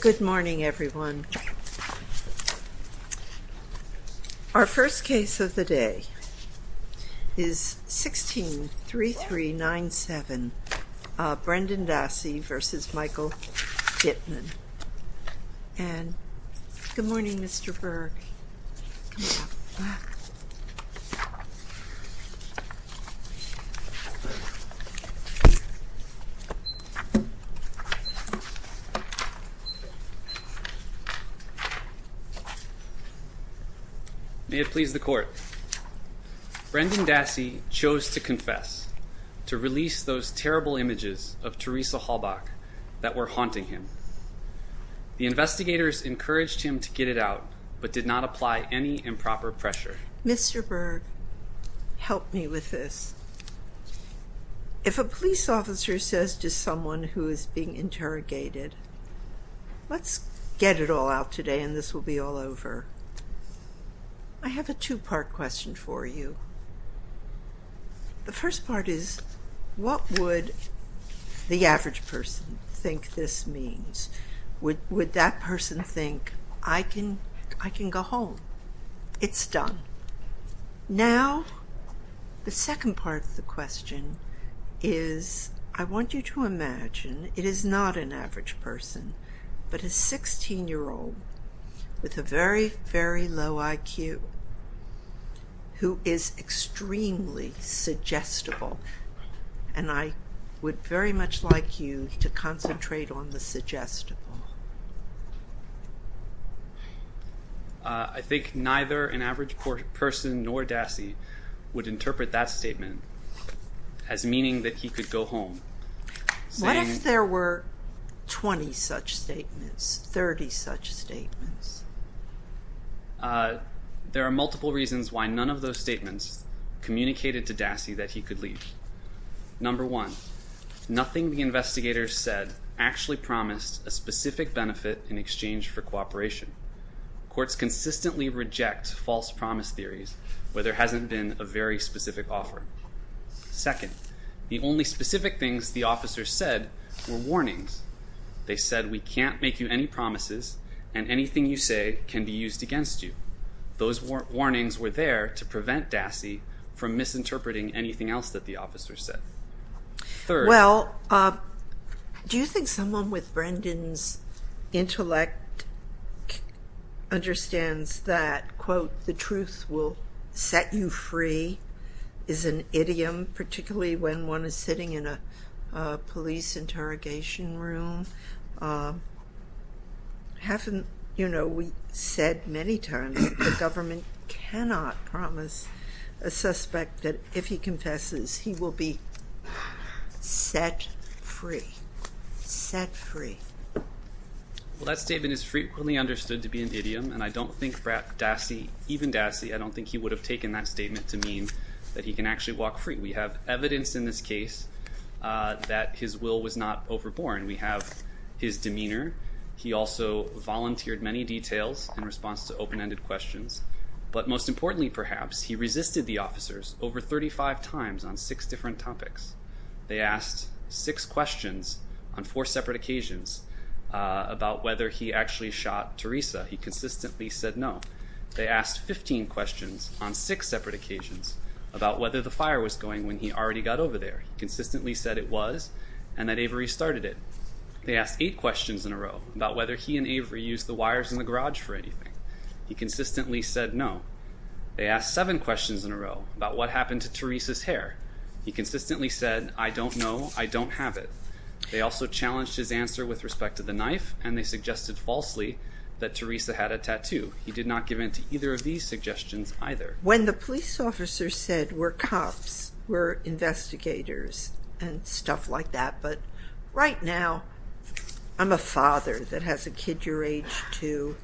Good morning everyone. Our first case of the day is 163397 Brendan Dassey v. Michael Dittmann. Good morning Mr. Berg. May it please the court. Brendan Dassey chose to confess to release those terrible images of Teresa Halbach that were haunting him. The investigators encouraged him to get it out but did not apply any improper pressure. Mr. Berg, help me with this. If a police officer says to someone who is being interrogated, let's get it all out today and this will be all over. I have a two-part question for you. The first part is what would the average person think this means? Would that person think I can go home? It's done. Now the second part of the question is I want you to imagine it is not an average person but a 16-year-old with a very, very low IQ who is extremely suggestible and I would very much like you to concentrate on the suggestible. I think neither an average person nor Dassey would interpret that statement as meaning that he could go home. What if there were 20 such statements, 30 such statements? There are multiple reasons why none of those statements communicated to Dassey that he could leave. Number one, nothing the investigators said actually promised a specific benefit in exchange for cooperation. Courts consistently reject false promise theories where there hasn't been a very specific offer. Second, the only specific things the officers said were warnings. They said we can't make you any promises and anything you say can be used against you. Those warnings were there to prevent Dassey from misinterpreting anything else that the officers said. Well, do you think someone with Brendan's intellect understands that, quote, the truth will set you free is an idiom, particularly when one is sitting in a police interrogation room? You know, we said many times the government cannot promise a suspect that if he confesses he will be set free. Set free. Well, that statement is frequently understood to be an idiom and I don't think even Dassey, I don't think he would have taken that statement to mean that he can actually walk free. We have evidence in this case that his will was not overborne. We have his demeanor. He also volunteered many details in response to open-ended questions. But most importantly, perhaps, he resisted the officers over 35 times on six different topics. They asked six questions on four separate occasions about whether he actually shot Teresa. He consistently said no. They asked 15 questions on six separate occasions about whether the fire was going when he already got over there. He consistently said it was and that Avery started it. They asked eight questions in a row about whether he and Avery used the wires in the garage for anything. He consistently said no. They asked seven questions in a row about what happened to Teresa's hair. He consistently said, I don't know. I don't have it. They also challenged his answer with respect to the knife and they suggested falsely that Teresa had a tattoo. He did not give in to either of these suggestions either. When the police officer said we're cops, we're investigators and stuff like that, but right now I'm a father that has a kid your age too.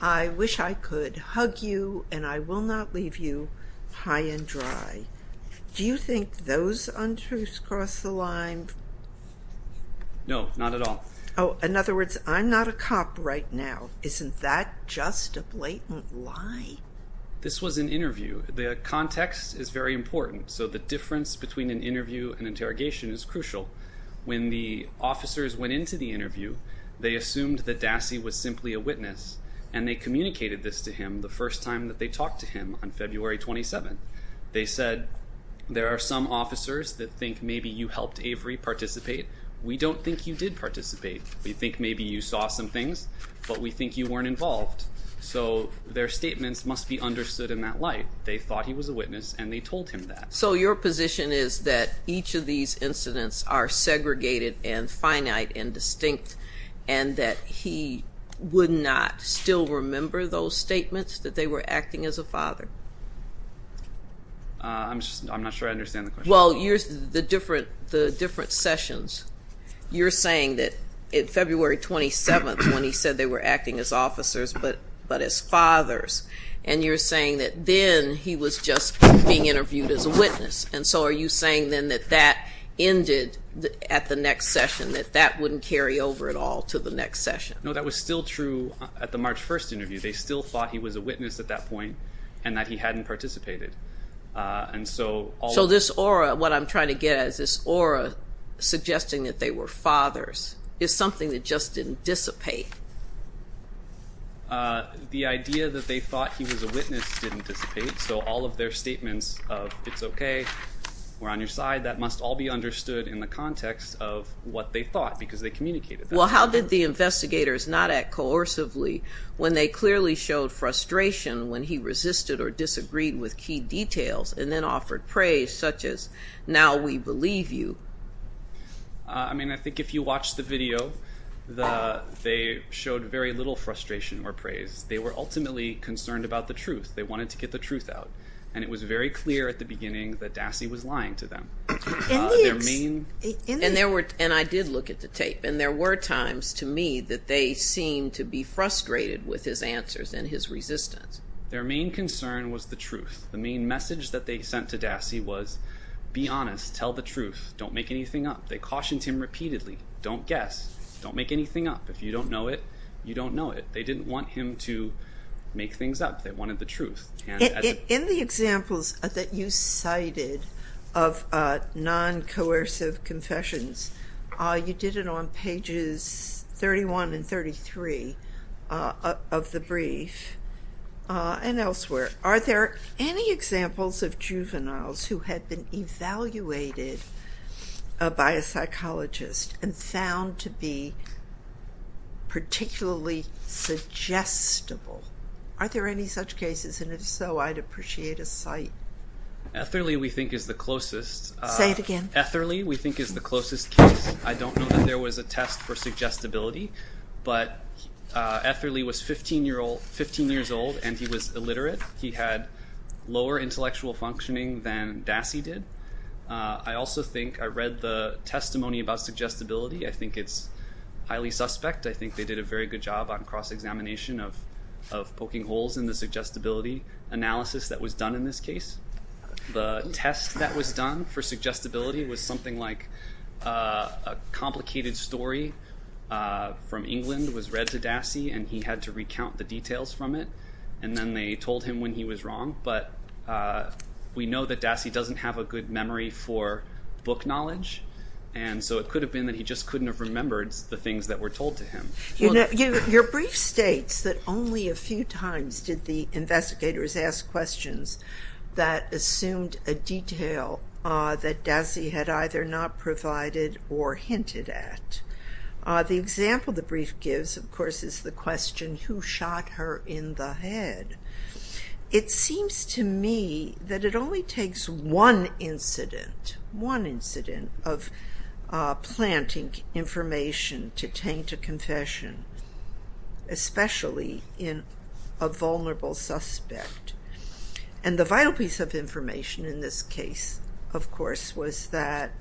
I wish I could hug you and I will not leave you high and dry. Do you think those untruths cross the line? No, not at all. In other words, I'm not a cop right now. Isn't that just a blatant lie? This was an interview. The context is very important, so the difference between an interview and interrogation is crucial. When the officers went into the interview, they assumed that Dassey was simply a witness, and they communicated this to him the first time that they talked to him on February 27th. They said there are some officers that think maybe you helped Avery participate. We don't think you did participate. We think maybe you saw some things, but we think you weren't involved. So their statements must be understood in that light. They thought he was a witness and they told him that. So your position is that each of these incidents are segregated and finite and distinct and that he would not still remember those statements that they were acting as a father? I'm not sure I understand the question. Well, the different sessions. You're saying that February 27th when he said they were acting as officers but as fathers, and you're saying that then he was just being interviewed as a witness, and so are you saying then that that ended at the next session, that that wouldn't carry over at all to the next session? No, that was still true at the March 1st interview. They still thought he was a witness at that point and that he hadn't participated. So this aura, what I'm trying to get at is this aura suggesting that they were fathers is something that just didn't dissipate. The idea that they thought he was a witness didn't dissipate, so all of their statements of it's okay, we're on your side, that must all be understood in the context of what they thought because they communicated that. Well, how did the investigators not act coercively when they clearly showed frustration when he resisted or disagreed with key details and then offered praise such as now we believe you? I mean, I think if you watch the video, they showed very little frustration or praise. They were ultimately concerned about the truth. They wanted to get the truth out, and it was very clear at the beginning that Dassey was lying to them. And I did look at the tape, and there were times to me that they seemed to be frustrated with his answers and his resistance. Their main concern was the truth. The main message that they sent to Dassey was be honest, tell the truth, don't make anything up. They cautioned him repeatedly, don't guess, don't make anything up. If you don't know it, you don't know it. They didn't want him to make things up. They wanted the truth. In the examples that you cited of non-coercive confessions, you did it on pages 31 and 33 of the brief and elsewhere. Are there any examples of juveniles who had been evaluated by a psychologist and found to be particularly suggestible? Are there any such cases? And if so, I'd appreciate a cite. Etherly, we think, is the closest. Say it again. Etherly, we think, is the closest case. I don't know that there was a test for suggestibility, but Etherly was 15 years old and he was illiterate. He had lower intellectual functioning than Dassey did. I also think I read the testimony about suggestibility. I think it's highly suspect. I think they did a very good job on cross-examination of poking holes in the suggestibility analysis that was done in this case. The test that was done for suggestibility was something like a complicated story from England was read to Dassey and he had to recount the details from it, and then they told him when he was wrong. But we know that Dassey doesn't have a good memory for book knowledge, and so it could have been that he just couldn't have remembered the things that were told to him. Your brief states that only a few times did the investigators ask questions that assumed a detail that Dassey had either not provided or hinted at. The example the brief gives, of course, is the question who shot her in the head. It seems to me that it only takes one incident, one incident of planting information to taint a confession, especially in a vulnerable suspect. The vital piece of information in this case, of course, was that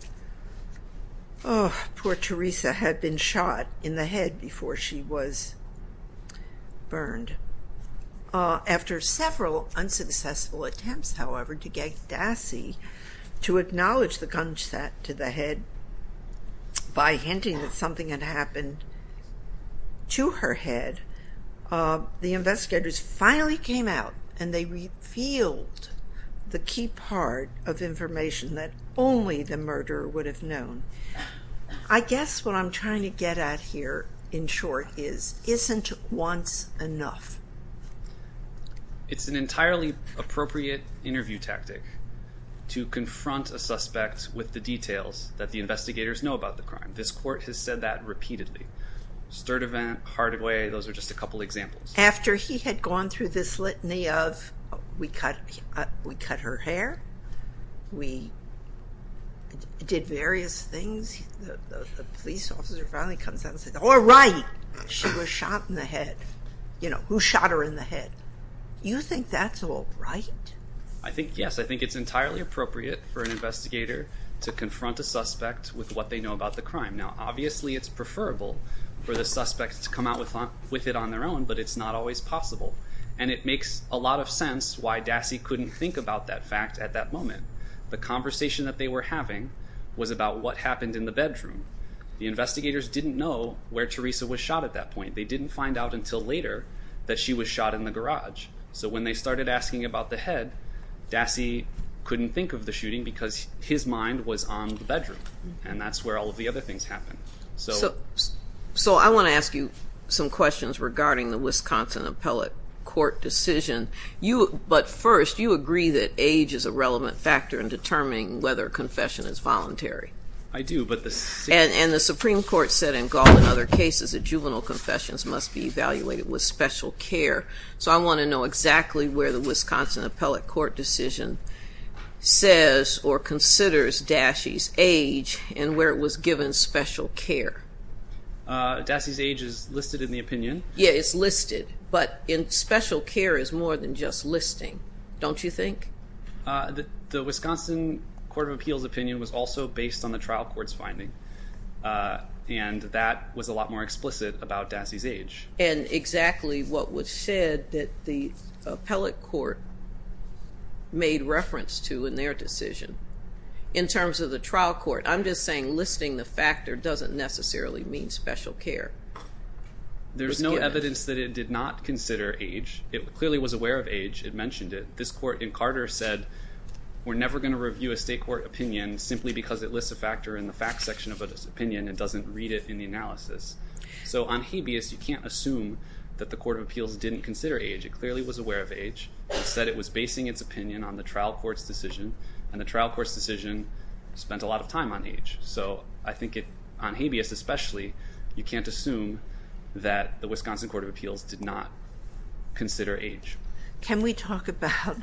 poor Teresa had been shot in the head before she was burned. After several unsuccessful attempts, however, to get Dassey to acknowledge the gunshot to the head by hinting that something had happened to her head, the investigators finally came out and they revealed the key part of information that only the murderer would have known. I guess what I'm trying to get at here, in short, is isn't once enough. It's an entirely appropriate interview tactic to confront a suspect with the details that the investigators know about the crime. This court has said that repeatedly. Sturtevant, Hardaway, those are just a couple examples. After he had gone through this litany of we cut her hair, we did various things, the police officer finally comes out and says, all right, she was shot in the head. You know, who shot her in the head? You think that's all right? I think, yes, I think it's entirely appropriate for an investigator to confront a suspect with what they know about the crime. Now, obviously, it's preferable for the suspect to come out with it on their own, but it's not always possible, and it makes a lot of sense why Dassey couldn't think about that fact at that moment. The conversation that they were having was about what happened in the bedroom. The investigators didn't know where Teresa was shot at that point. They didn't find out until later that she was shot in the garage. So when they started asking about the head, Dassey couldn't think of the shooting because his mind was on the bedroom, and that's where all of the other things happened. So I want to ask you some questions regarding the Wisconsin Appellate Court decision. But first, you agree that age is a relevant factor in determining whether a confession is voluntary. I do. And the Supreme Court said in Gaul and other cases that juvenile confessions must be evaluated with special care. So I want to know exactly where the Wisconsin Appellate Court decision says or considers Dassey's age and where it was given special care. Dassey's age is listed in the opinion. Yeah, it's listed, but special care is more than just listing, don't you think? The Wisconsin Court of Appeals opinion was also based on the trial court's finding, and that was a lot more explicit about Dassey's age. And exactly what was said that the appellate court made reference to in their decision. In terms of the trial court, I'm just saying listing the factor doesn't necessarily mean special care. There's no evidence that it did not consider age. It clearly was aware of age. It mentioned it. This court in Carter said we're never going to review a state court opinion simply because it lists a factor in the facts section of an opinion and doesn't read it in the analysis. So on habeas, you can't assume that the Court of Appeals didn't consider age. It clearly was aware of age. It said it was basing its opinion on the trial court's decision, and the trial court's decision spent a lot of time on age. So I think on habeas especially, you can't assume that the Wisconsin Court of Appeals did not consider age. Can we talk about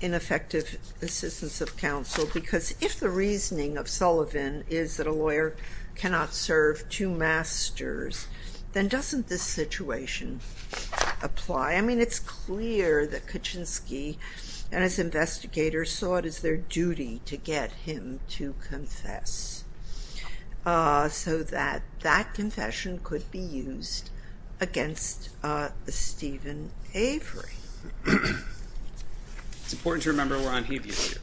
ineffective assistance of counsel? Because if the reasoning of Sullivan is that a lawyer cannot serve two masters, then doesn't this situation apply? I mean, it's clear that Kaczynski and his investigators saw it as their duty to get him to confess so that that confession could be used against Stephen Avery. It's important to remember we're on habeas here.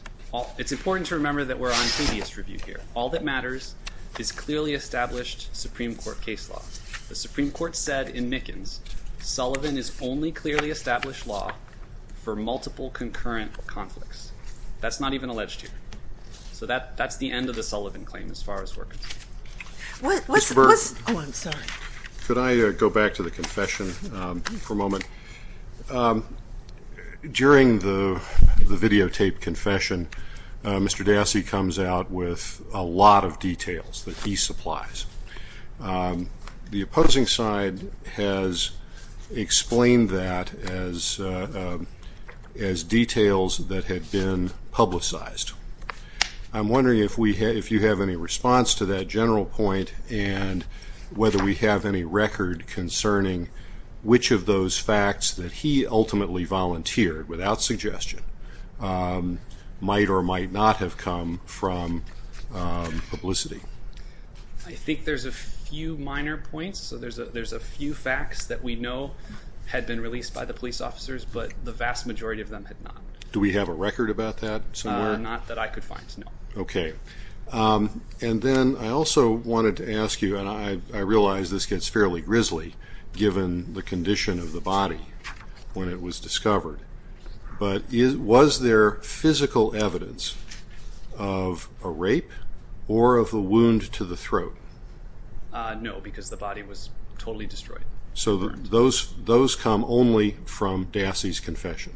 It's important to remember that we're on habeas review here. All that matters is clearly established Supreme Court case law. The Supreme Court said in Mickens, Sullivan is only clearly established law for multiple concurrent conflicts. That's not even alleged here. So that's the end of the Sullivan claim as far as we're concerned. Ms. Burke. Oh, I'm sorry. Could I go back to the confession for a moment? During the videotaped confession, Mr. Dassey comes out with a lot of details that he supplies. The opposing side has explained that as details that had been publicized. I'm wondering if you have any response to that general point and whether we have any record concerning which of those facts that he ultimately volunteered without suggestion might or might not have come from publicity. I think there's a few minor points. There's a few facts that we know had been released by the police officers, but the vast majority of them had not. Do we have a record about that somewhere? Not that I could find, no. Okay. And then I also wanted to ask you, and I realize this gets fairly grisly, given the condition of the body when it was discovered, but was there physical evidence of a rape or of a wound to the throat? No, because the body was totally destroyed. So those come only from Dassey's confession?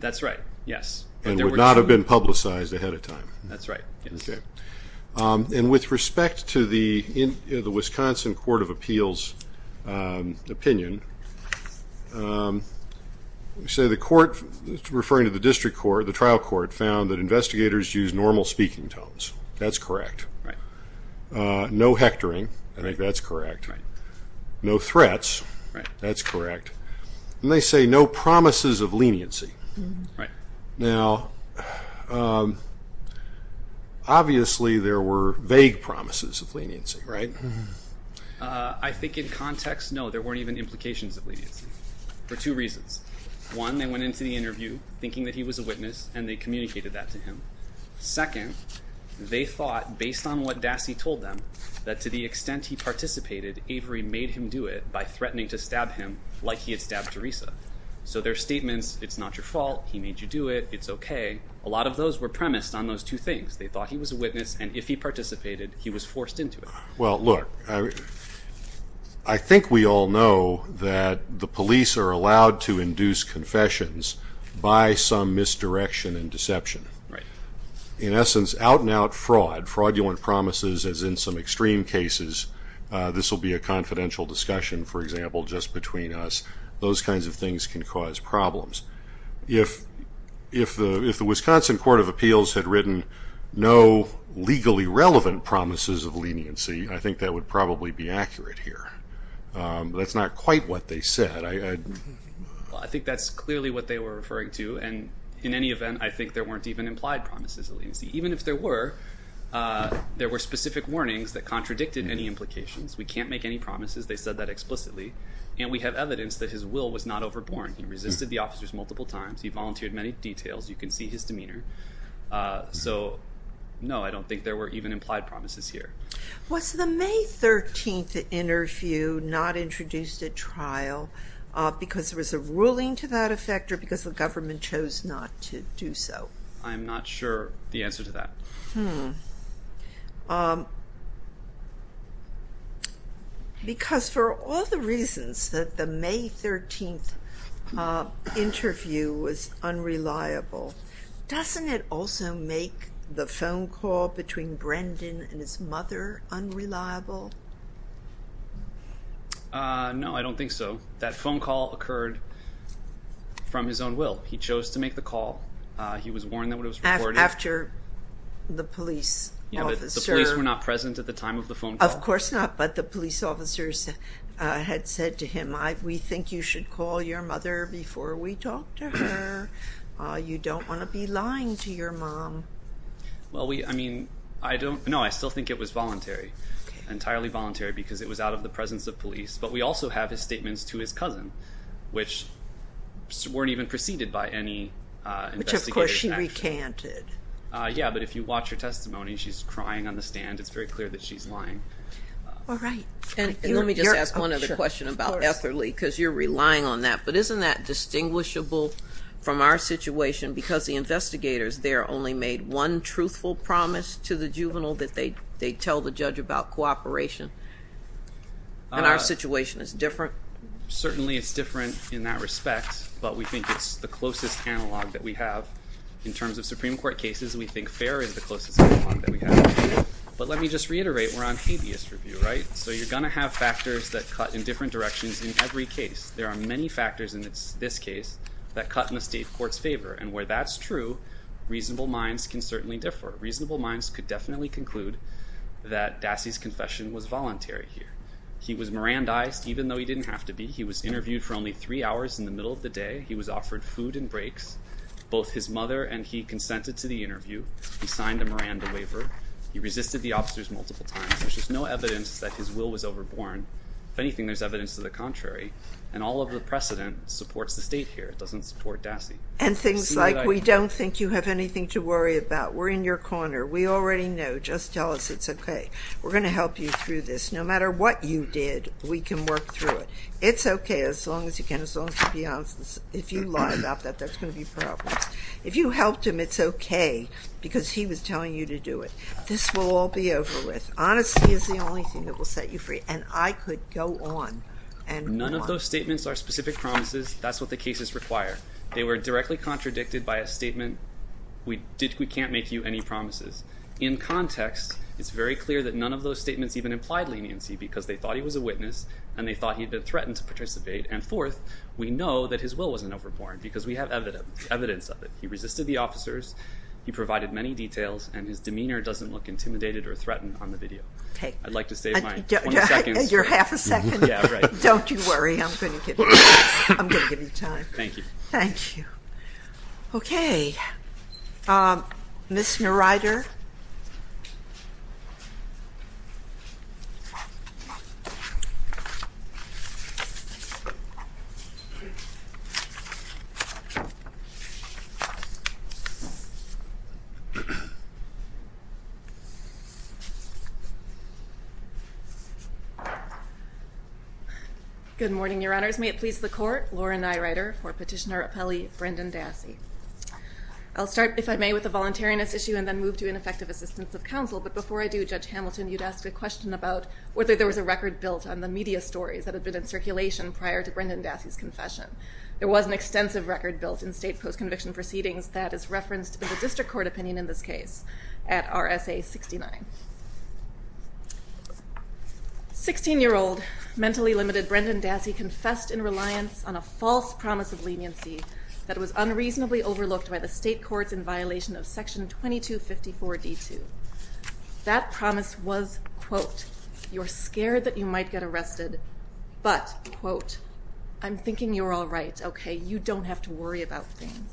That's right, yes. And would not have been publicized ahead of time? That's right, yes. Okay. And with respect to the Wisconsin Court of Appeals opinion, we say the court referring to the district court, the trial court, found that investigators used normal speaking tones. That's correct. Right. No hectoring. I think that's correct. Right. No threats. Right. That's correct. And they say no promises of leniency. Right. Now, obviously there were vague promises of leniency, right? I think in context, no, there weren't even implications of leniency, for two reasons. One, they went into the interview thinking that he was a witness, and they communicated that to him. Second, they thought, based on what Dassey told them, that to the extent he participated, Avery made him do it by threatening to stab him like he had stabbed Teresa. So their statements, it's not your fault, he made you do it, it's okay, a lot of those were premised on those two things. They thought he was a witness, and if he participated, he was forced into it. Well, look, I think we all know that the police are allowed to induce confessions by some misdirection and deception. Right. In essence, out-and-out fraud, fraudulent promises, as in some extreme cases, this will be a confidential discussion, for example, just between us. Those kinds of things can cause problems. If the Wisconsin Court of Appeals had written no legally relevant promises of leniency, I think that would probably be accurate here. That's not quite what they said. I think that's clearly what they were referring to, and in any event, I think there weren't even implied promises of leniency. Even if there were, there were specific warnings that contradicted any implications. We can't make any promises, they said that explicitly, and we have evidence that his will was not overborne. He resisted the officers multiple times. He volunteered many details. You can see his demeanor. So, no, I don't think there were even implied promises here. Was the May 13th interview not introduced at trial because there was a ruling to that effect or because the government chose not to do so? I'm not sure the answer to that. Hmm. Because for all the reasons that the May 13th interview was unreliable, doesn't it also make the phone call between Brendan and his mother unreliable? No, I don't think so. That phone call occurred from his own will. He chose to make the call. He was warned that it was recorded. After the police officer... The police were not present at the time of the phone call? Of course not, but the police officers had said to him, we think you should call your mother before we talk to her. You don't want to be lying to your mom. Well, I mean, I don't know. I still think it was voluntary, entirely voluntary, because it was out of the presence of police. But we also have his statements to his cousin, which weren't even preceded by any investigative action. Yeah, but if you watch her testimony, she's crying on the stand. It's very clear that she's lying. All right. And let me just ask one other question about Etherly, because you're relying on that. But isn't that distinguishable from our situation, because the investigators there only made one truthful promise to the juvenile that they tell the judge about cooperation, and our situation is different? Certainly it's different in that respect, but we think it's the closest analog that we have. In terms of Supreme Court cases, we think fair is the closest analog that we have. But let me just reiterate, we're on habeas review, right? So you're going to have factors that cut in different directions in every case. There are many factors in this case that cut in the state court's favor. And where that's true, reasonable minds can certainly differ. Reasonable minds could definitely conclude that Dassey's confession was voluntary here. He was Mirandized, even though he didn't have to be. He was interviewed for only three hours in the middle of the day. He was offered food and breaks. Both his mother and he consented to the interview. He signed a Miranda waiver. He resisted the officers multiple times. There's just no evidence that his will was overborne. If anything, there's evidence to the contrary. And all of the precedent supports the state here. It doesn't support Dassey. And things like, we don't think you have anything to worry about. We're in your corner. We already know. Just tell us it's okay. We're going to help you through this. No matter what you did, we can work through it. It's okay as long as you can, as long as you're being honest. If you lie about that, there's going to be problems. If you helped him, it's okay because he was telling you to do it. This will all be over with. Honesty is the only thing that will set you free. And I could go on and on. None of those statements are specific promises. That's what the cases require. They were directly contradicted by a statement, we can't make you any promises. In context, it's very clear that none of those statements even implied leniency because they thought he was a witness and they thought he had been threatened to participate. And fourth, we know that his will wasn't overborne because we have evidence of it. He resisted the officers, he provided many details, and his demeanor doesn't look intimidated or threatened on the video. I'd like to save my 20 seconds. You're half a second? Yeah, right. Don't you worry. I'm going to give you time. Thank you. Thank you. Okay. Ms. Neureider. Good morning, Your Honors. May it please the Court. Lauren Neureider for Petitioner Appellee Brendan Dassey. I'll start, if I may, with the voluntariness issue and then move to ineffective assistance of counsel. But before I do, Judge Hamilton, you'd ask a question about whether there was a record built on the media stories that had been in circulation prior to Brendan Dassey's confession. There was an extensive record built in state post-conviction proceedings that is referenced in the district court opinion in this case at RSA 69. Sixteen-year-old, mentally limited Brendan Dassey confessed in reliance on a false promise of leniency that was unreasonably overlooked by the state courts in violation of Section 2254-D2. That promise was, quote, you're scared that you might get arrested, but, quote, I'm thinking you're all right, okay, you don't have to worry about things.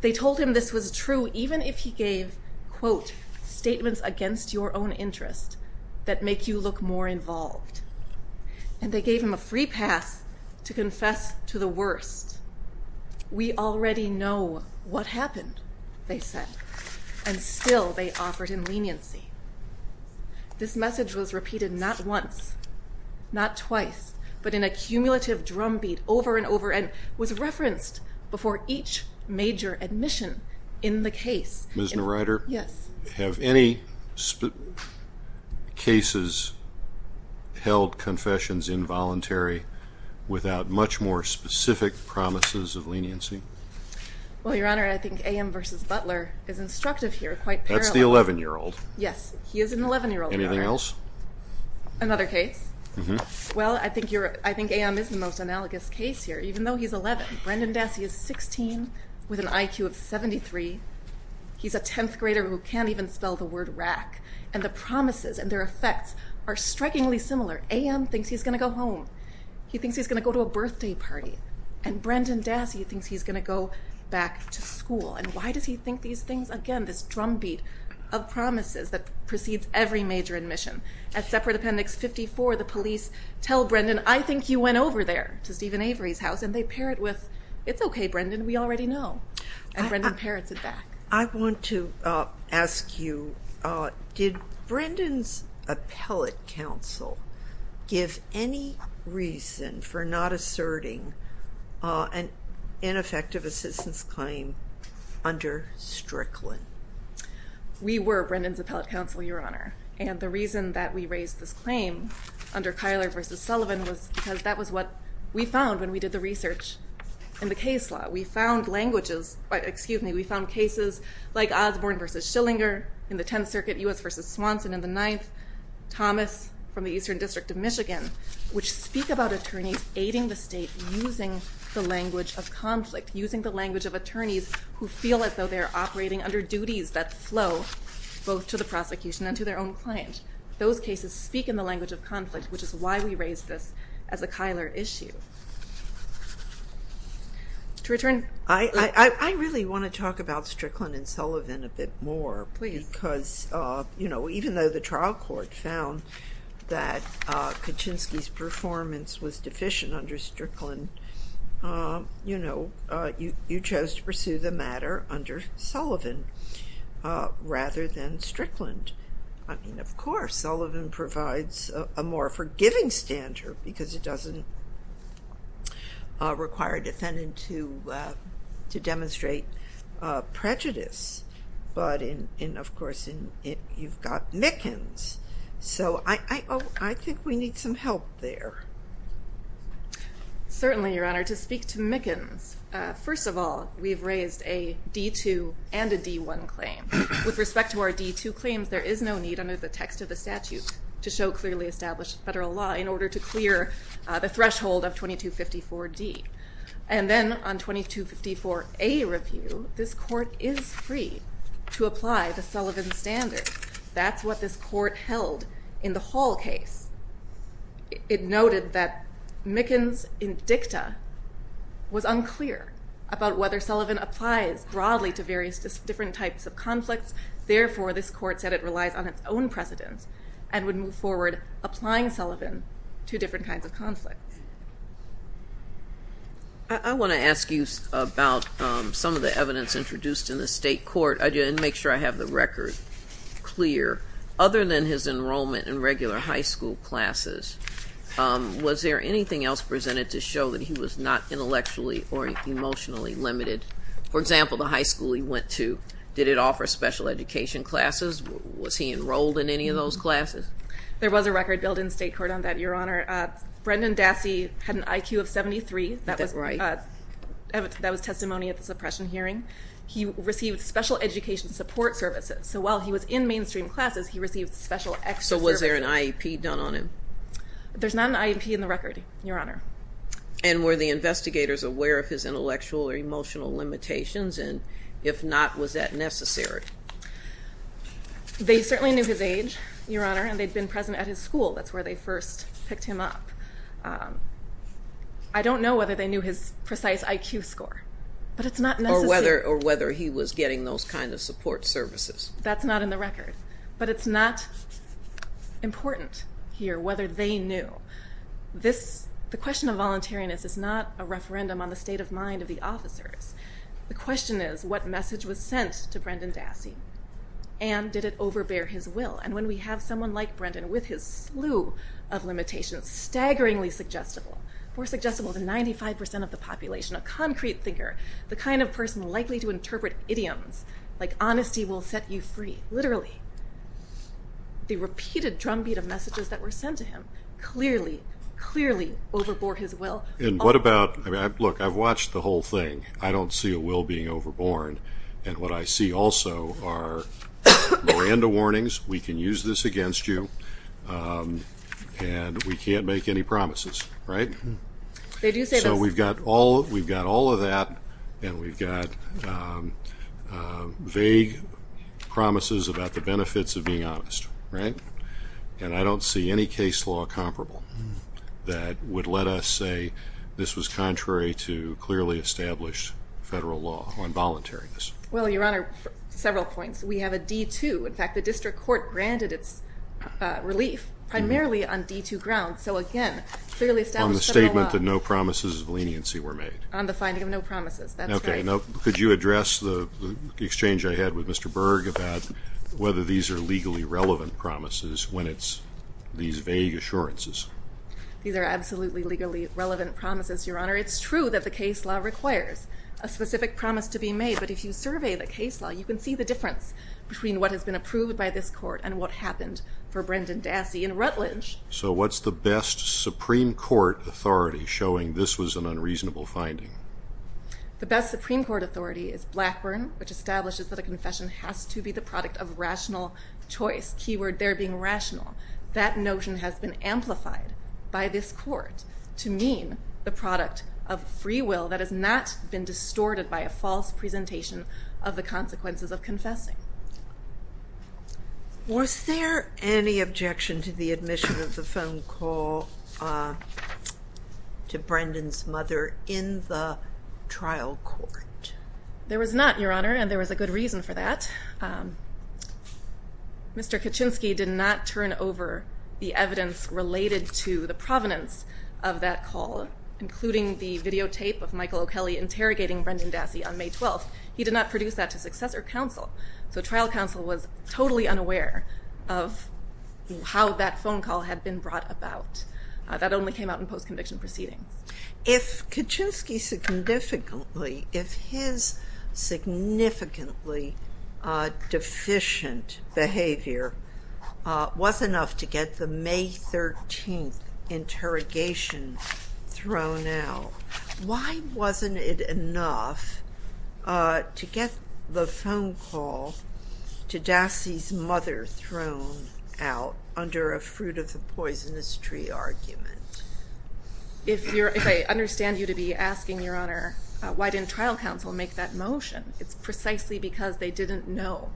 They told him this was true even if he gave, quote, statements against your own interest that make you look more involved. And they gave him a free pass to confess to the worst. We already know what happened, they said, and still they offered him leniency. This message was repeated not once, not twice, but in a cumulative drumbeat over and over and was referenced before each major admission in the case. Ms. Neureider, have any cases held confessions involuntary without much more specific promises of leniency? Well, Your Honor, I think A.M. versus Butler is instructive here, quite parallel. That's the 11-year-old. Yes, he is an 11-year-old, Your Honor. Anything else? Another case? Well, I think A.M. is the most analogous case here, even though he's 11. Brendan Dassey is 16 with an IQ of 73. He's a 10th grader who can't even spell the word rack. And the promises and their effects are strikingly similar. A.M. thinks he's going to go home. He thinks he's going to go to a birthday party. And Brendan Dassey thinks he's going to go back to school. And why does he think these things? Again, this drumbeat of promises that precedes every major admission. At Separate Appendix 54, the police tell Brendan, I think you went over there to Stephen Avery's house. And they pair it with, it's okay, Brendan, we already know. And Brendan pairs it back. I want to ask you, did Brendan's appellate counsel give any reason for not asserting an ineffective assistance claim under Strickland? We were Brendan's appellate counsel, Your Honor. And the reason that we raised this claim under Kyler v. Sullivan was because that was what we found when we did the research in the case law. We found cases like Osborne v. Schillinger in the Tenth Circuit, U.S. v. Swanson in the Ninth, Thomas from the Eastern District of Michigan, which speak about attorneys aiding the state using the language of conflict, using the language of attorneys who feel as though they're operating under duties that flow both to the prosecution and to their own client. Those cases speak in the language of conflict, which is why we raised this as a Kyler issue. I really want to talk about Strickland and Sullivan a bit more, because even though the trial court found that Kaczynski's performance was deficient under Strickland, you chose to pursue the matter under Sullivan rather than Strickland. I mean, of course, Sullivan provides a more forgiving standard because it doesn't require a defendant to demonstrate prejudice. But, of course, you've got Mickens. So I think we need some help there. Certainly, Your Honor. To speak to Mickens, first of all, we've raised a D-2 and a D-1 claim. With respect to our D-2 claims, there is no need under the text of the statute to show clearly established federal law in order to clear the threshold of 2254-D. And then on 2254-A review, this court is free to apply the Sullivan standard. That's what this court held in the Hall case. It noted that Mickens in dicta was unclear about whether Sullivan applies broadly to various different types of conflicts. Therefore, this court said it relies on its own precedence and would move forward applying Sullivan to different kinds of conflicts. I want to ask you about some of the evidence introduced in the state court. I didn't make sure I have the record clear. Other than his enrollment in regular high school classes, was there anything else presented to show that he was not intellectually or emotionally limited? For example, the high school he went to, did it offer special education classes? Was he enrolled in any of those classes? There was a record billed in state court on that, Your Honor. Brendan Dassey had an IQ of 73. That was testimony at the suppression hearing. He received special education support services. So while he was in mainstream classes, he received special extra services. So was there an IEP done on him? There's not an IEP in the record, Your Honor. And were the investigators aware of his intellectual or emotional limitations? And if not, was that necessary? They certainly knew his age, Your Honor, and they'd been present at his school. That's where they first picked him up. I don't know whether they knew his precise IQ score, but it's not necessary. Or whether he was getting those kind of support services. That's not in the record. But it's not important here whether they knew. The question of voluntariness is not a referendum on the state of mind of the officers. The question is what message was sent to Brendan Dassey, and did it overbear his will? And when we have someone like Brendan with his slew of limitations, staggeringly suggestible, more suggestible than 95% of the population, a concrete thinker, the kind of person likely to interpret idioms like honesty will set you free, literally. The repeated drumbeat of messages that were sent to him clearly, clearly overbore his will. And what about, look, I've watched the whole thing. I don't see a will being overborne. And what I see also are Miranda warnings. We can use this against you. And we can't make any promises, right? They do say this. So we've got all of that, and we've got vague promises about the benefits of being honest, right? And I don't see any case law comparable that would let us say this was contrary to clearly established federal law on voluntariness. Well, Your Honor, several points. We have a D-2. In fact, the district court granted its relief primarily on D-2 grounds. So, again, clearly established federal law. On the statement that no promises of leniency were made. On the finding of no promises. That's right. Okay. Now, could you address the exchange I had with Mr. Berg about whether these are legally relevant promises when it's these vague assurances? These are absolutely legally relevant promises, Your Honor. It's true that the case law requires a specific promise to be made. But if you survey the case law, you can see the difference between what has been approved by this court and what happened for Brendan Dassey in Rutledge. So what's the best Supreme Court authority showing this was an unreasonable finding? The best Supreme Court authority is Blackburn, which establishes that a confession has to be the product of rational choice. Key word there being rational. That notion has been amplified by this court to mean the product of free will that has not been distorted by a false presentation of the consequences of confessing. Was there any objection to the admission of the phone call to Brendan's mother in the trial court? There was not, Your Honor, and there was a good reason for that. Mr. Kaczynski did not turn over the evidence related to the provenance of that call, including the videotape of Michael O'Kelley interrogating Brendan Dassey on May 12th. He did not produce that to successor counsel. So trial counsel was totally unaware of how that phone call had been brought about. That only came out in post-conviction proceedings. If Kaczynski significantly, if his significantly deficient behavior was enough to get the May 13th interrogation thrown out, why wasn't it enough to get the phone call to Dassey's mother thrown out under a fruit-of-the-poisonous-tree argument? If I understand you to be asking, Your Honor, why didn't trial counsel make that motion, it's precisely because they didn't know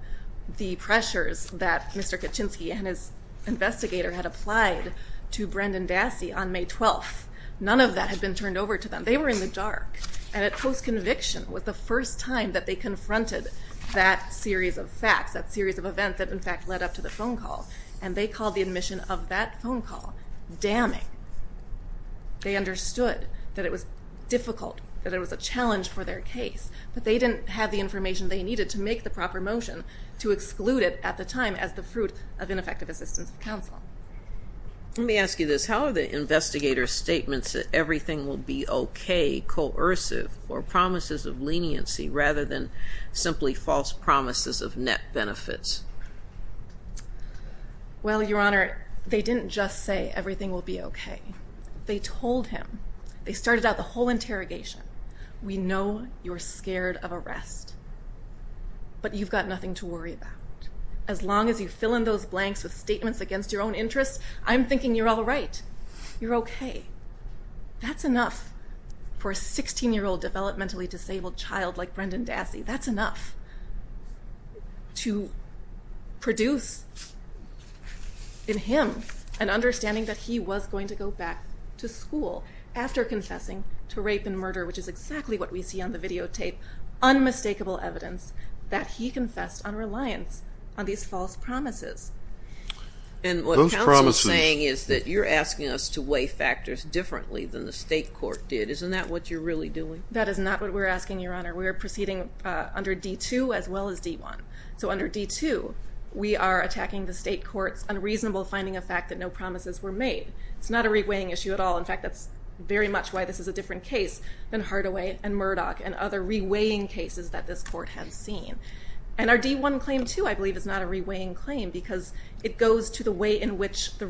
the pressures that Mr. Kaczynski and his investigator had applied to Brendan Dassey on May 12th. None of that had been turned over to them. They were in the dark, and post-conviction was the first time that they confronted that series of facts, that series of events that, in fact, led up to the phone call. And they called the admission of that phone call damning. They understood that it was difficult, that it was a challenge for their case, but they didn't have the information they needed to make the proper motion to exclude it at the time as the fruit of ineffective assistance of counsel. Let me ask you this. How are the investigators' statements that everything will be okay coercive or promises of leniency rather than simply false promises of net benefits? Well, Your Honor, they didn't just say everything will be okay. They told him. They started out the whole interrogation. We know you're scared of arrest, but you've got nothing to worry about. As long as you fill in those blanks with statements against your own interests, I'm thinking you're all right. You're okay. That's enough for a 16-year-old developmentally disabled child like Brendan Dassey. That's enough to produce in him an understanding that he was going to go back to school after confessing to rape and murder, which is exactly what we see on the videotape, unmistakable evidence that he confessed on reliance on these false promises. And what counsel is saying is that you're asking us to weigh factors differently than the state court did. Isn't that what you're really doing? That is not what we're asking, Your Honor. We are proceeding under D-2 as well as D-1. So under D-2, we are attacking the state court's unreasonable finding of fact that no promises were made. It's not a re-weighing issue at all. In fact, that's very much why this is a different case than Hardaway and Murdoch and other re-weighing cases that this court has seen. And our D-1 claim, too, I believe is not a re-weighing claim because it goes to the way in which the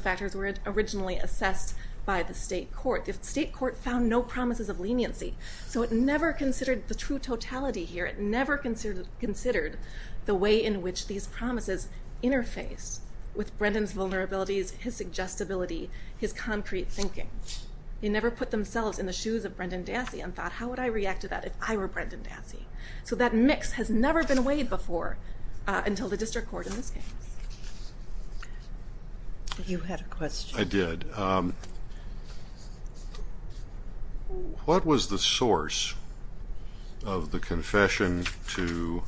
factors were originally assessed by the state court. The state court found no promises of leniency. So it never considered the true totality here. It never considered the way in which these promises interface with Brendan's vulnerabilities, his suggestibility, his concrete thinking. They never put themselves in the shoes of Brendan Dassey and thought, how would I react to that if I were Brendan Dassey? So that mix has never been weighed before until the district court in this case. You had a question. I did. What was the source of the confession to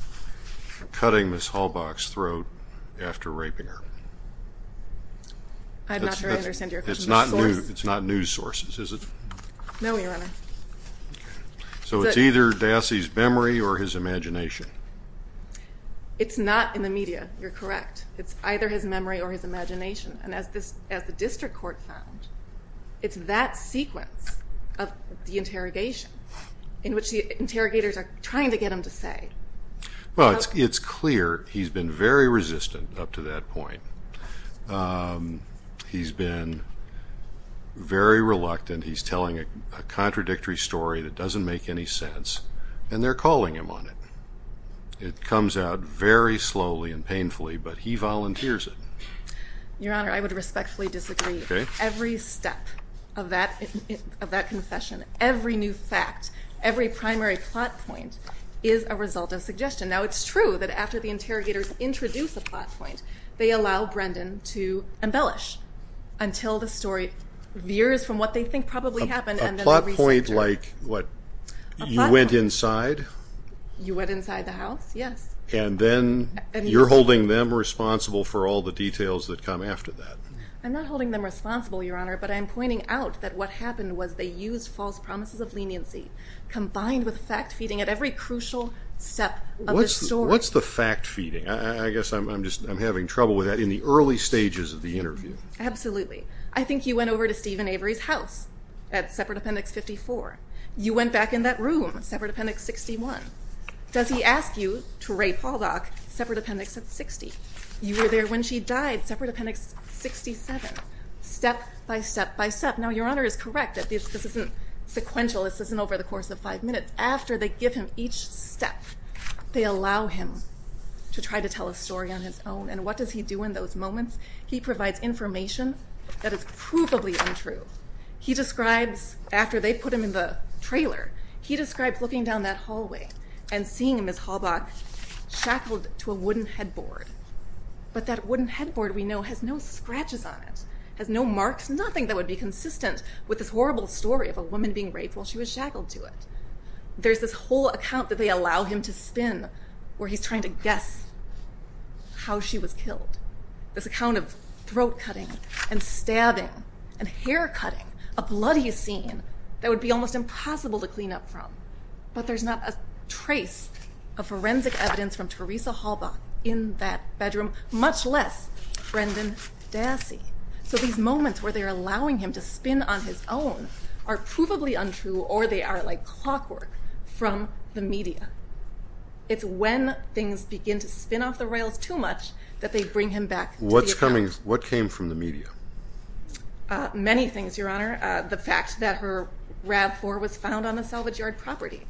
cutting Ms. Halbach's throat after raping her? I'm not sure I understand your question. It's not news sources, is it? No, Your Honor. So it's either Dassey's memory or his imagination. It's not in the media. You're correct. It's either his memory or his imagination. And as the district court found, it's that sequence of the interrogation in which the interrogators are trying to get him to say. Well, it's clear he's been very resistant up to that point. He's been very reluctant. He's telling a contradictory story that doesn't make any sense, and they're calling him on it. It comes out very slowly and painfully, but he volunteers it. Your Honor, I would respectfully disagree. Every step of that confession, every new fact, every primary plot point is a result of suggestion. Now, it's true that after the interrogators introduce a plot point, they allow Brendan to embellish until the story veers from what they think probably happened and then the researcher. A plot point like what? A plot point. You went inside? You went inside the house, yes. And then you're holding them responsible for all the details that come after that. I'm not holding them responsible, Your Honor, but I'm pointing out that what happened was they used false promises of leniency combined with fact feeding at every crucial step of the story. What's the fact feeding? I guess I'm having trouble with that in the early stages of the interview. Absolutely. I think you went over to Stephen Avery's house at Separate Appendix 54. You went back in that room, Separate Appendix 61. Does he ask you, to Ray Pauldock, Separate Appendix 60? You were there when she died, Separate Appendix 67. Step by step by step. Now, Your Honor is correct that this isn't sequential. This isn't over the course of five minutes. After they give him each step, they allow him to try to tell a story on his own. And what does he do in those moments? He provides information that is provably untrue. He describes, after they put him in the trailer, he describes looking down that hallway and seeing Ms. Halbach shackled to a wooden headboard. But that wooden headboard, we know, has no scratches on it, has no marks, nothing that would be consistent with this horrible story of a woman being raped while she was shackled to it. There's this whole account that they allow him to spin where he's trying to guess how she was killed. This account of throat cutting and stabbing and hair cutting, a bloody scene that would be almost impossible to clean up from. But there's not a trace of forensic evidence from Teresa Halbach in that bedroom, much less Brendan Dassey. So these moments where they're allowing him to spin on his own are provably untrue or they are, like, clockwork from the media. It's when things begin to spin off the rails too much that they bring him back to the account. What came from the media? Many things, Your Honor. The fact that her RAV-4 was found on a salvage yard property.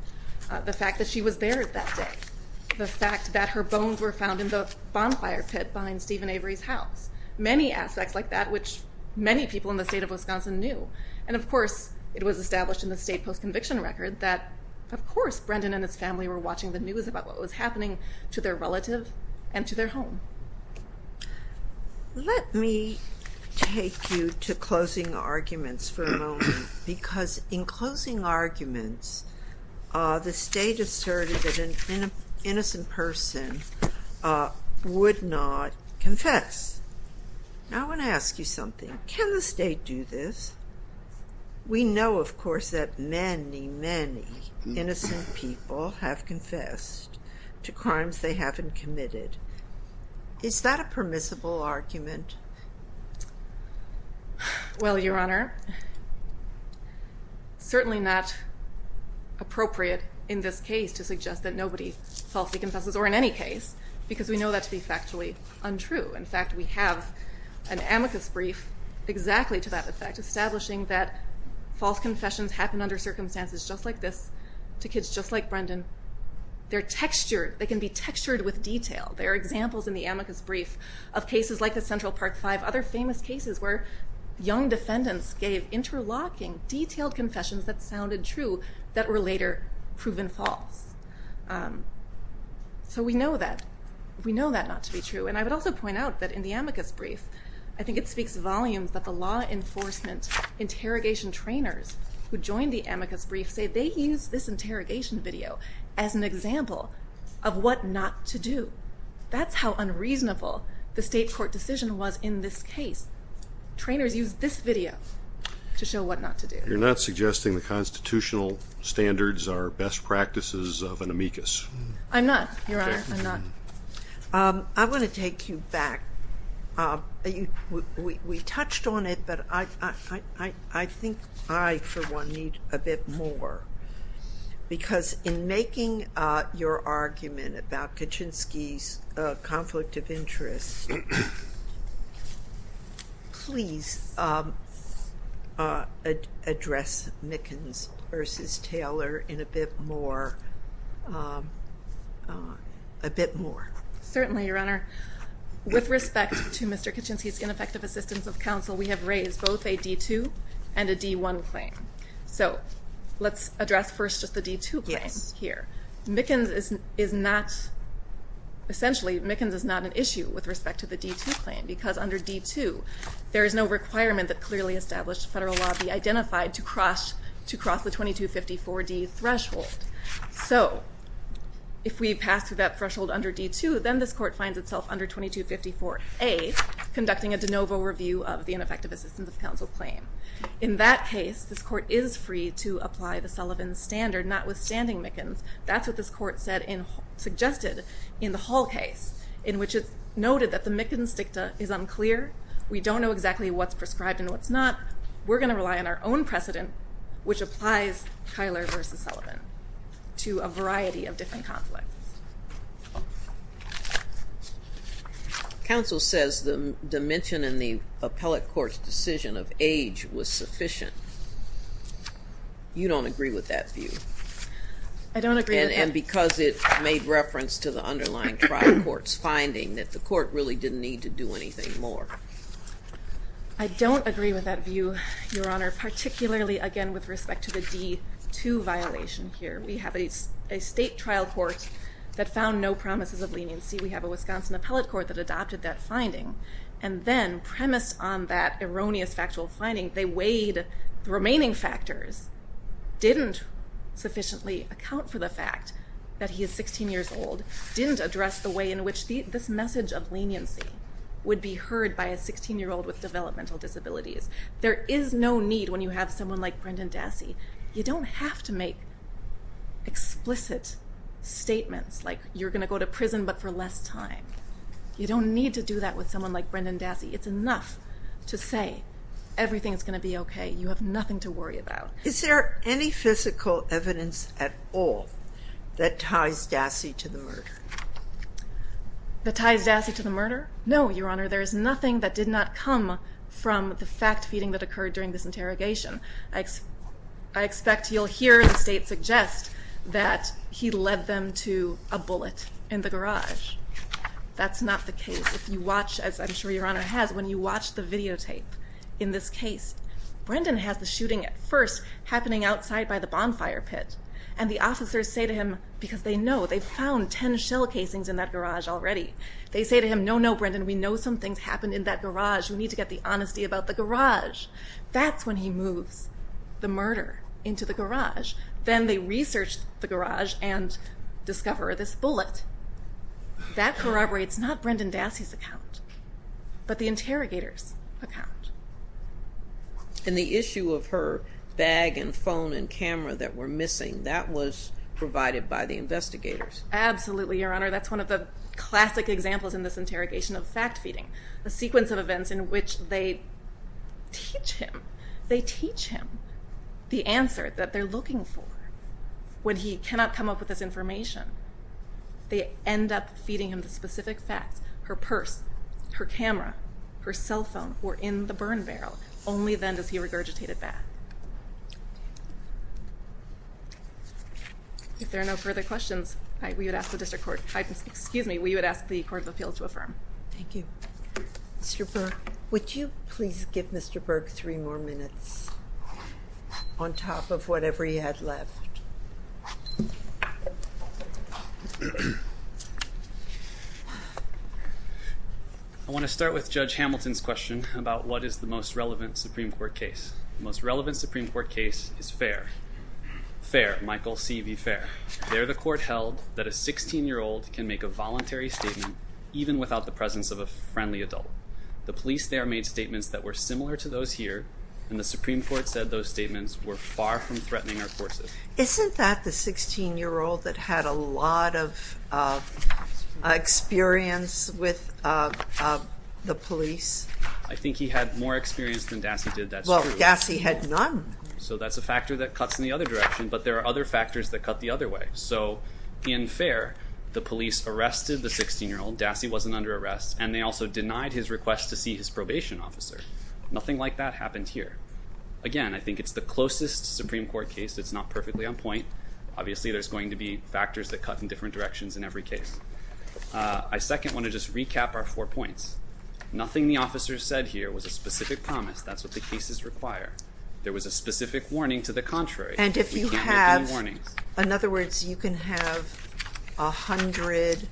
The fact that she was there that day. The fact that her bones were found in the bonfire pit behind Stephen Avery's house. Many aspects like that which many people in the state of Wisconsin knew. And, of course, it was established in the state post-conviction record that, of course, Brendan and his family were watching the news about what was happening to their relative and to their home. Let me take you to closing arguments for a moment because in closing arguments the state asserted that an innocent person would not confess. Now I want to ask you something. Can the state do this? We know, of course, that many, many innocent people have confessed to crimes they haven't committed. Is that a permissible argument? Well, Your Honor, certainly not appropriate in this case to suggest that nobody falsely confesses or in any case because we know that to be factually untrue. In fact, we have an amicus brief exactly to that effect establishing that false confessions happen under circumstances just like this to kids just like Brendan. They're textured. They can be textured with detail. There are examples in the amicus brief of cases like the Central Park Five, other famous cases where young defendants gave interlocking detailed confessions that sounded true that were later proven false. So we know that. We know that not to be true. And I would also point out that in the amicus brief, I think it speaks volumes that the law enforcement interrogation trainers who joined the amicus brief say they used this interrogation video as an example of what not to do. That's how unreasonable the state court decision was in this case. Trainers used this video to show what not to do. You're not suggesting the constitutional standards are best practices of an amicus? I'm not, Your Honor. I'm not. I want to take you back. We touched on it, but I think I, for one, need a bit more. Because in making your argument about Kaczynski's conflict of interest, please address Mickens versus Taylor in a bit more. Certainly, Your Honor. With respect to Mr. Kaczynski's ineffective assistance of counsel, we have raised both a D-2 and a D-1 claim. So let's address first just the D-2 claim here. Yes. Essentially, Mickens is not an issue with respect to the D-2 claim because under D-2 there is no requirement that clearly established federal law be identified to cross the 2254D threshold. So if we pass through that threshold under D-2, then this court finds itself under 2254A, conducting a de novo review of the ineffective assistance of counsel claim. In that case, this court is free to apply the Sullivan standard, notwithstanding Mickens. That's what this court suggested in the Hall case, in which it's noted that the Mickens dicta is unclear. We don't know exactly what's prescribed and what's not. We're going to rely on our own precedent, which applies Kyler v. Sullivan to a variety of different conflicts. Counsel says the dimension in the appellate court's decision of age was sufficient. You don't agree with that view. I don't agree with that. And because it made reference to the underlying trial court's finding that the court really didn't need to do anything more. I don't agree with that view, Your Honor, particularly, again, with respect to the D-2 violation here. We have a state trial court that found no promises of leniency. We have a Wisconsin appellate court that adopted that finding, and then premised on that erroneous factual finding, they weighed the remaining factors, didn't sufficiently account for the fact that he is 16 years old, didn't address the way in which this message of leniency would be heard by a 16-year-old with developmental disabilities. There is no need when you have someone like Brendan Dassey. You don't have to make explicit statements like you're going to go to prison but for less time. You don't need to do that with someone like Brendan Dassey. It's enough to say everything's going to be okay. You have nothing to worry about. Is there any physical evidence at all that ties Dassey to the murder? That ties Dassey to the murder? No, Your Honor. There is nothing that did not come from the fact-feeding that occurred during this interrogation. I expect you'll hear the state suggest that he led them to a bullet in the garage. That's not the case. If you watch, as I'm sure Your Honor has, when you watch the videotape in this case, Brendan has the shooting at first happening outside by the bonfire pit, and the officers say to him, because they know, they found 10 shell casings in that garage already. They say to him, No, no, Brendan, we know some things happened in that garage. We need to get the honesty about the garage. That's when he moves the murder into the garage. Then they research the garage and discover this bullet. That corroborates not Brendan Dassey's account but the interrogator's account. And the issue of her bag and phone and camera that were missing, that was provided by the investigators. Absolutely, Your Honor. That's one of the classic examples in this interrogation of fact-feeding, a sequence of events in which they teach him. They teach him the answer that they're looking for. When he cannot come up with this information, they end up feeding him the specific facts. Her purse, her camera, her cell phone were in the burn barrel. Only then does he regurgitate it back. If there are no further questions, we would ask the district court. Excuse me, we would ask the Court of Appeals to affirm. Thank you. Mr. Berg, would you please give Mr. Berg three more minutes on top of whatever he had left? I want to start with Judge Hamilton's question about what is the most relevant Supreme Court case. The most relevant Supreme Court case is Fair. Fair, Michael C. v. Fair. Fair, the court held that a 16-year-old can make a voluntary statement even without the presence of a friendly adult. The police there made statements that were similar to those here, and the Supreme Court said those statements were far from threatening our courses. Isn't that the 16-year-old that had a lot of experience with the police? I think he had more experience than Dassey did, that's true. Well, Dassey had none. So that's a factor that cuts in the other direction, but there are other factors that cut the other way. So in Fair, the police arrested the 16-year-old, Dassey wasn't under arrest, and they also denied his request to see his probation officer. Nothing like that happened here. Again, I think it's the closest Supreme Court case. It's not perfectly on point. Obviously there's going to be factors that cut in different directions in every case. I second want to just recap our four points. Nothing the officers said here was a specific promise. That's what the cases require. There was a specific warning to the contrary. We can't make any warnings. In other words, you can have a hundred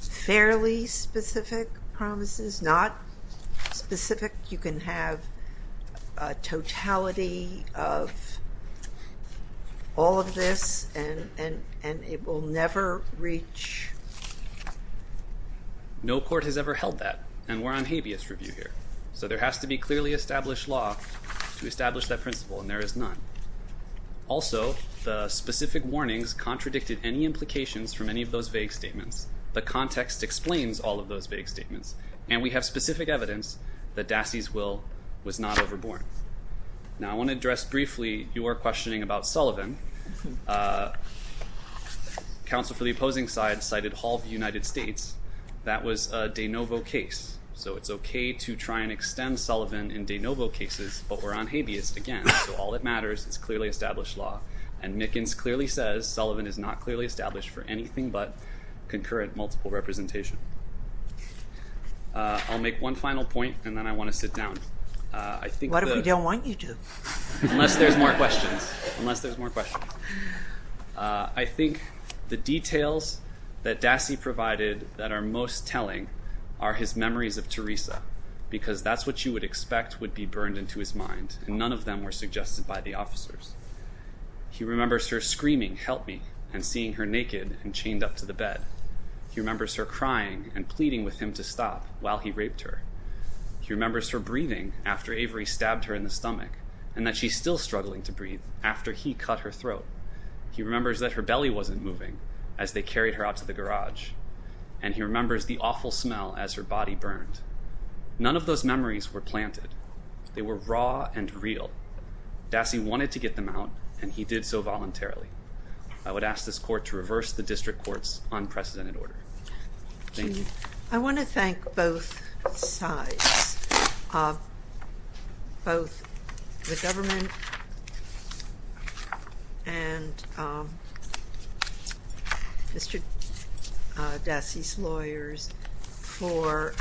fairly specific promises, not specific. You can have a totality of all of this, and it will never reach... No court has ever held that. And we're on habeas review here. So there has to be clearly established law to establish that principle, and there is none. Also, the specific warnings contradicted any implications from any of those vague statements. The context explains all of those vague statements, and we have specific evidence that Dassey's will was not overborne. Now I want to address briefly your questioning about Sullivan. Counsel for the opposing side cited Hall v. United States. That was a de novo case. So it's okay to try and extend Sullivan in de novo cases, but we're on habeas again. So all that matters is clearly established law. And Mickens clearly says Sullivan is not clearly established for anything but concurrent multiple representation. I'll make one final point, and then I want to sit down. What if we don't want you to? Unless there's more questions. Unless there's more questions. are his memories of Teresa, because that's what you would expect would be burned into his mind, and none of them were suggested by the officers. He remembers her screaming, help me, and seeing her naked and chained up to the bed. He remembers her crying and pleading with him to stop while he raped her. He remembers her breathing after Avery stabbed her in the stomach, and that she's still struggling to breathe after he cut her throat. He remembers that her belly wasn't moving as they carried her out to the garage. And he remembers the awful smell as her body burned. None of those memories were planted. They were raw and real. Dassey wanted to get them out, and he did so voluntarily. I would ask this court to reverse the district court's unprecedented order. Thank you. I want to thank both sides, both the government and Mr. Dassey's lawyers, for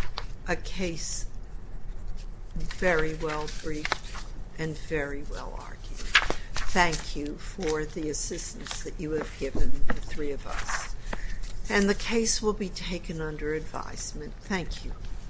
a case very well briefed and very well argued. Thank you for the assistance that you have given the three of us. And the case will be taken under advisement. Thank you.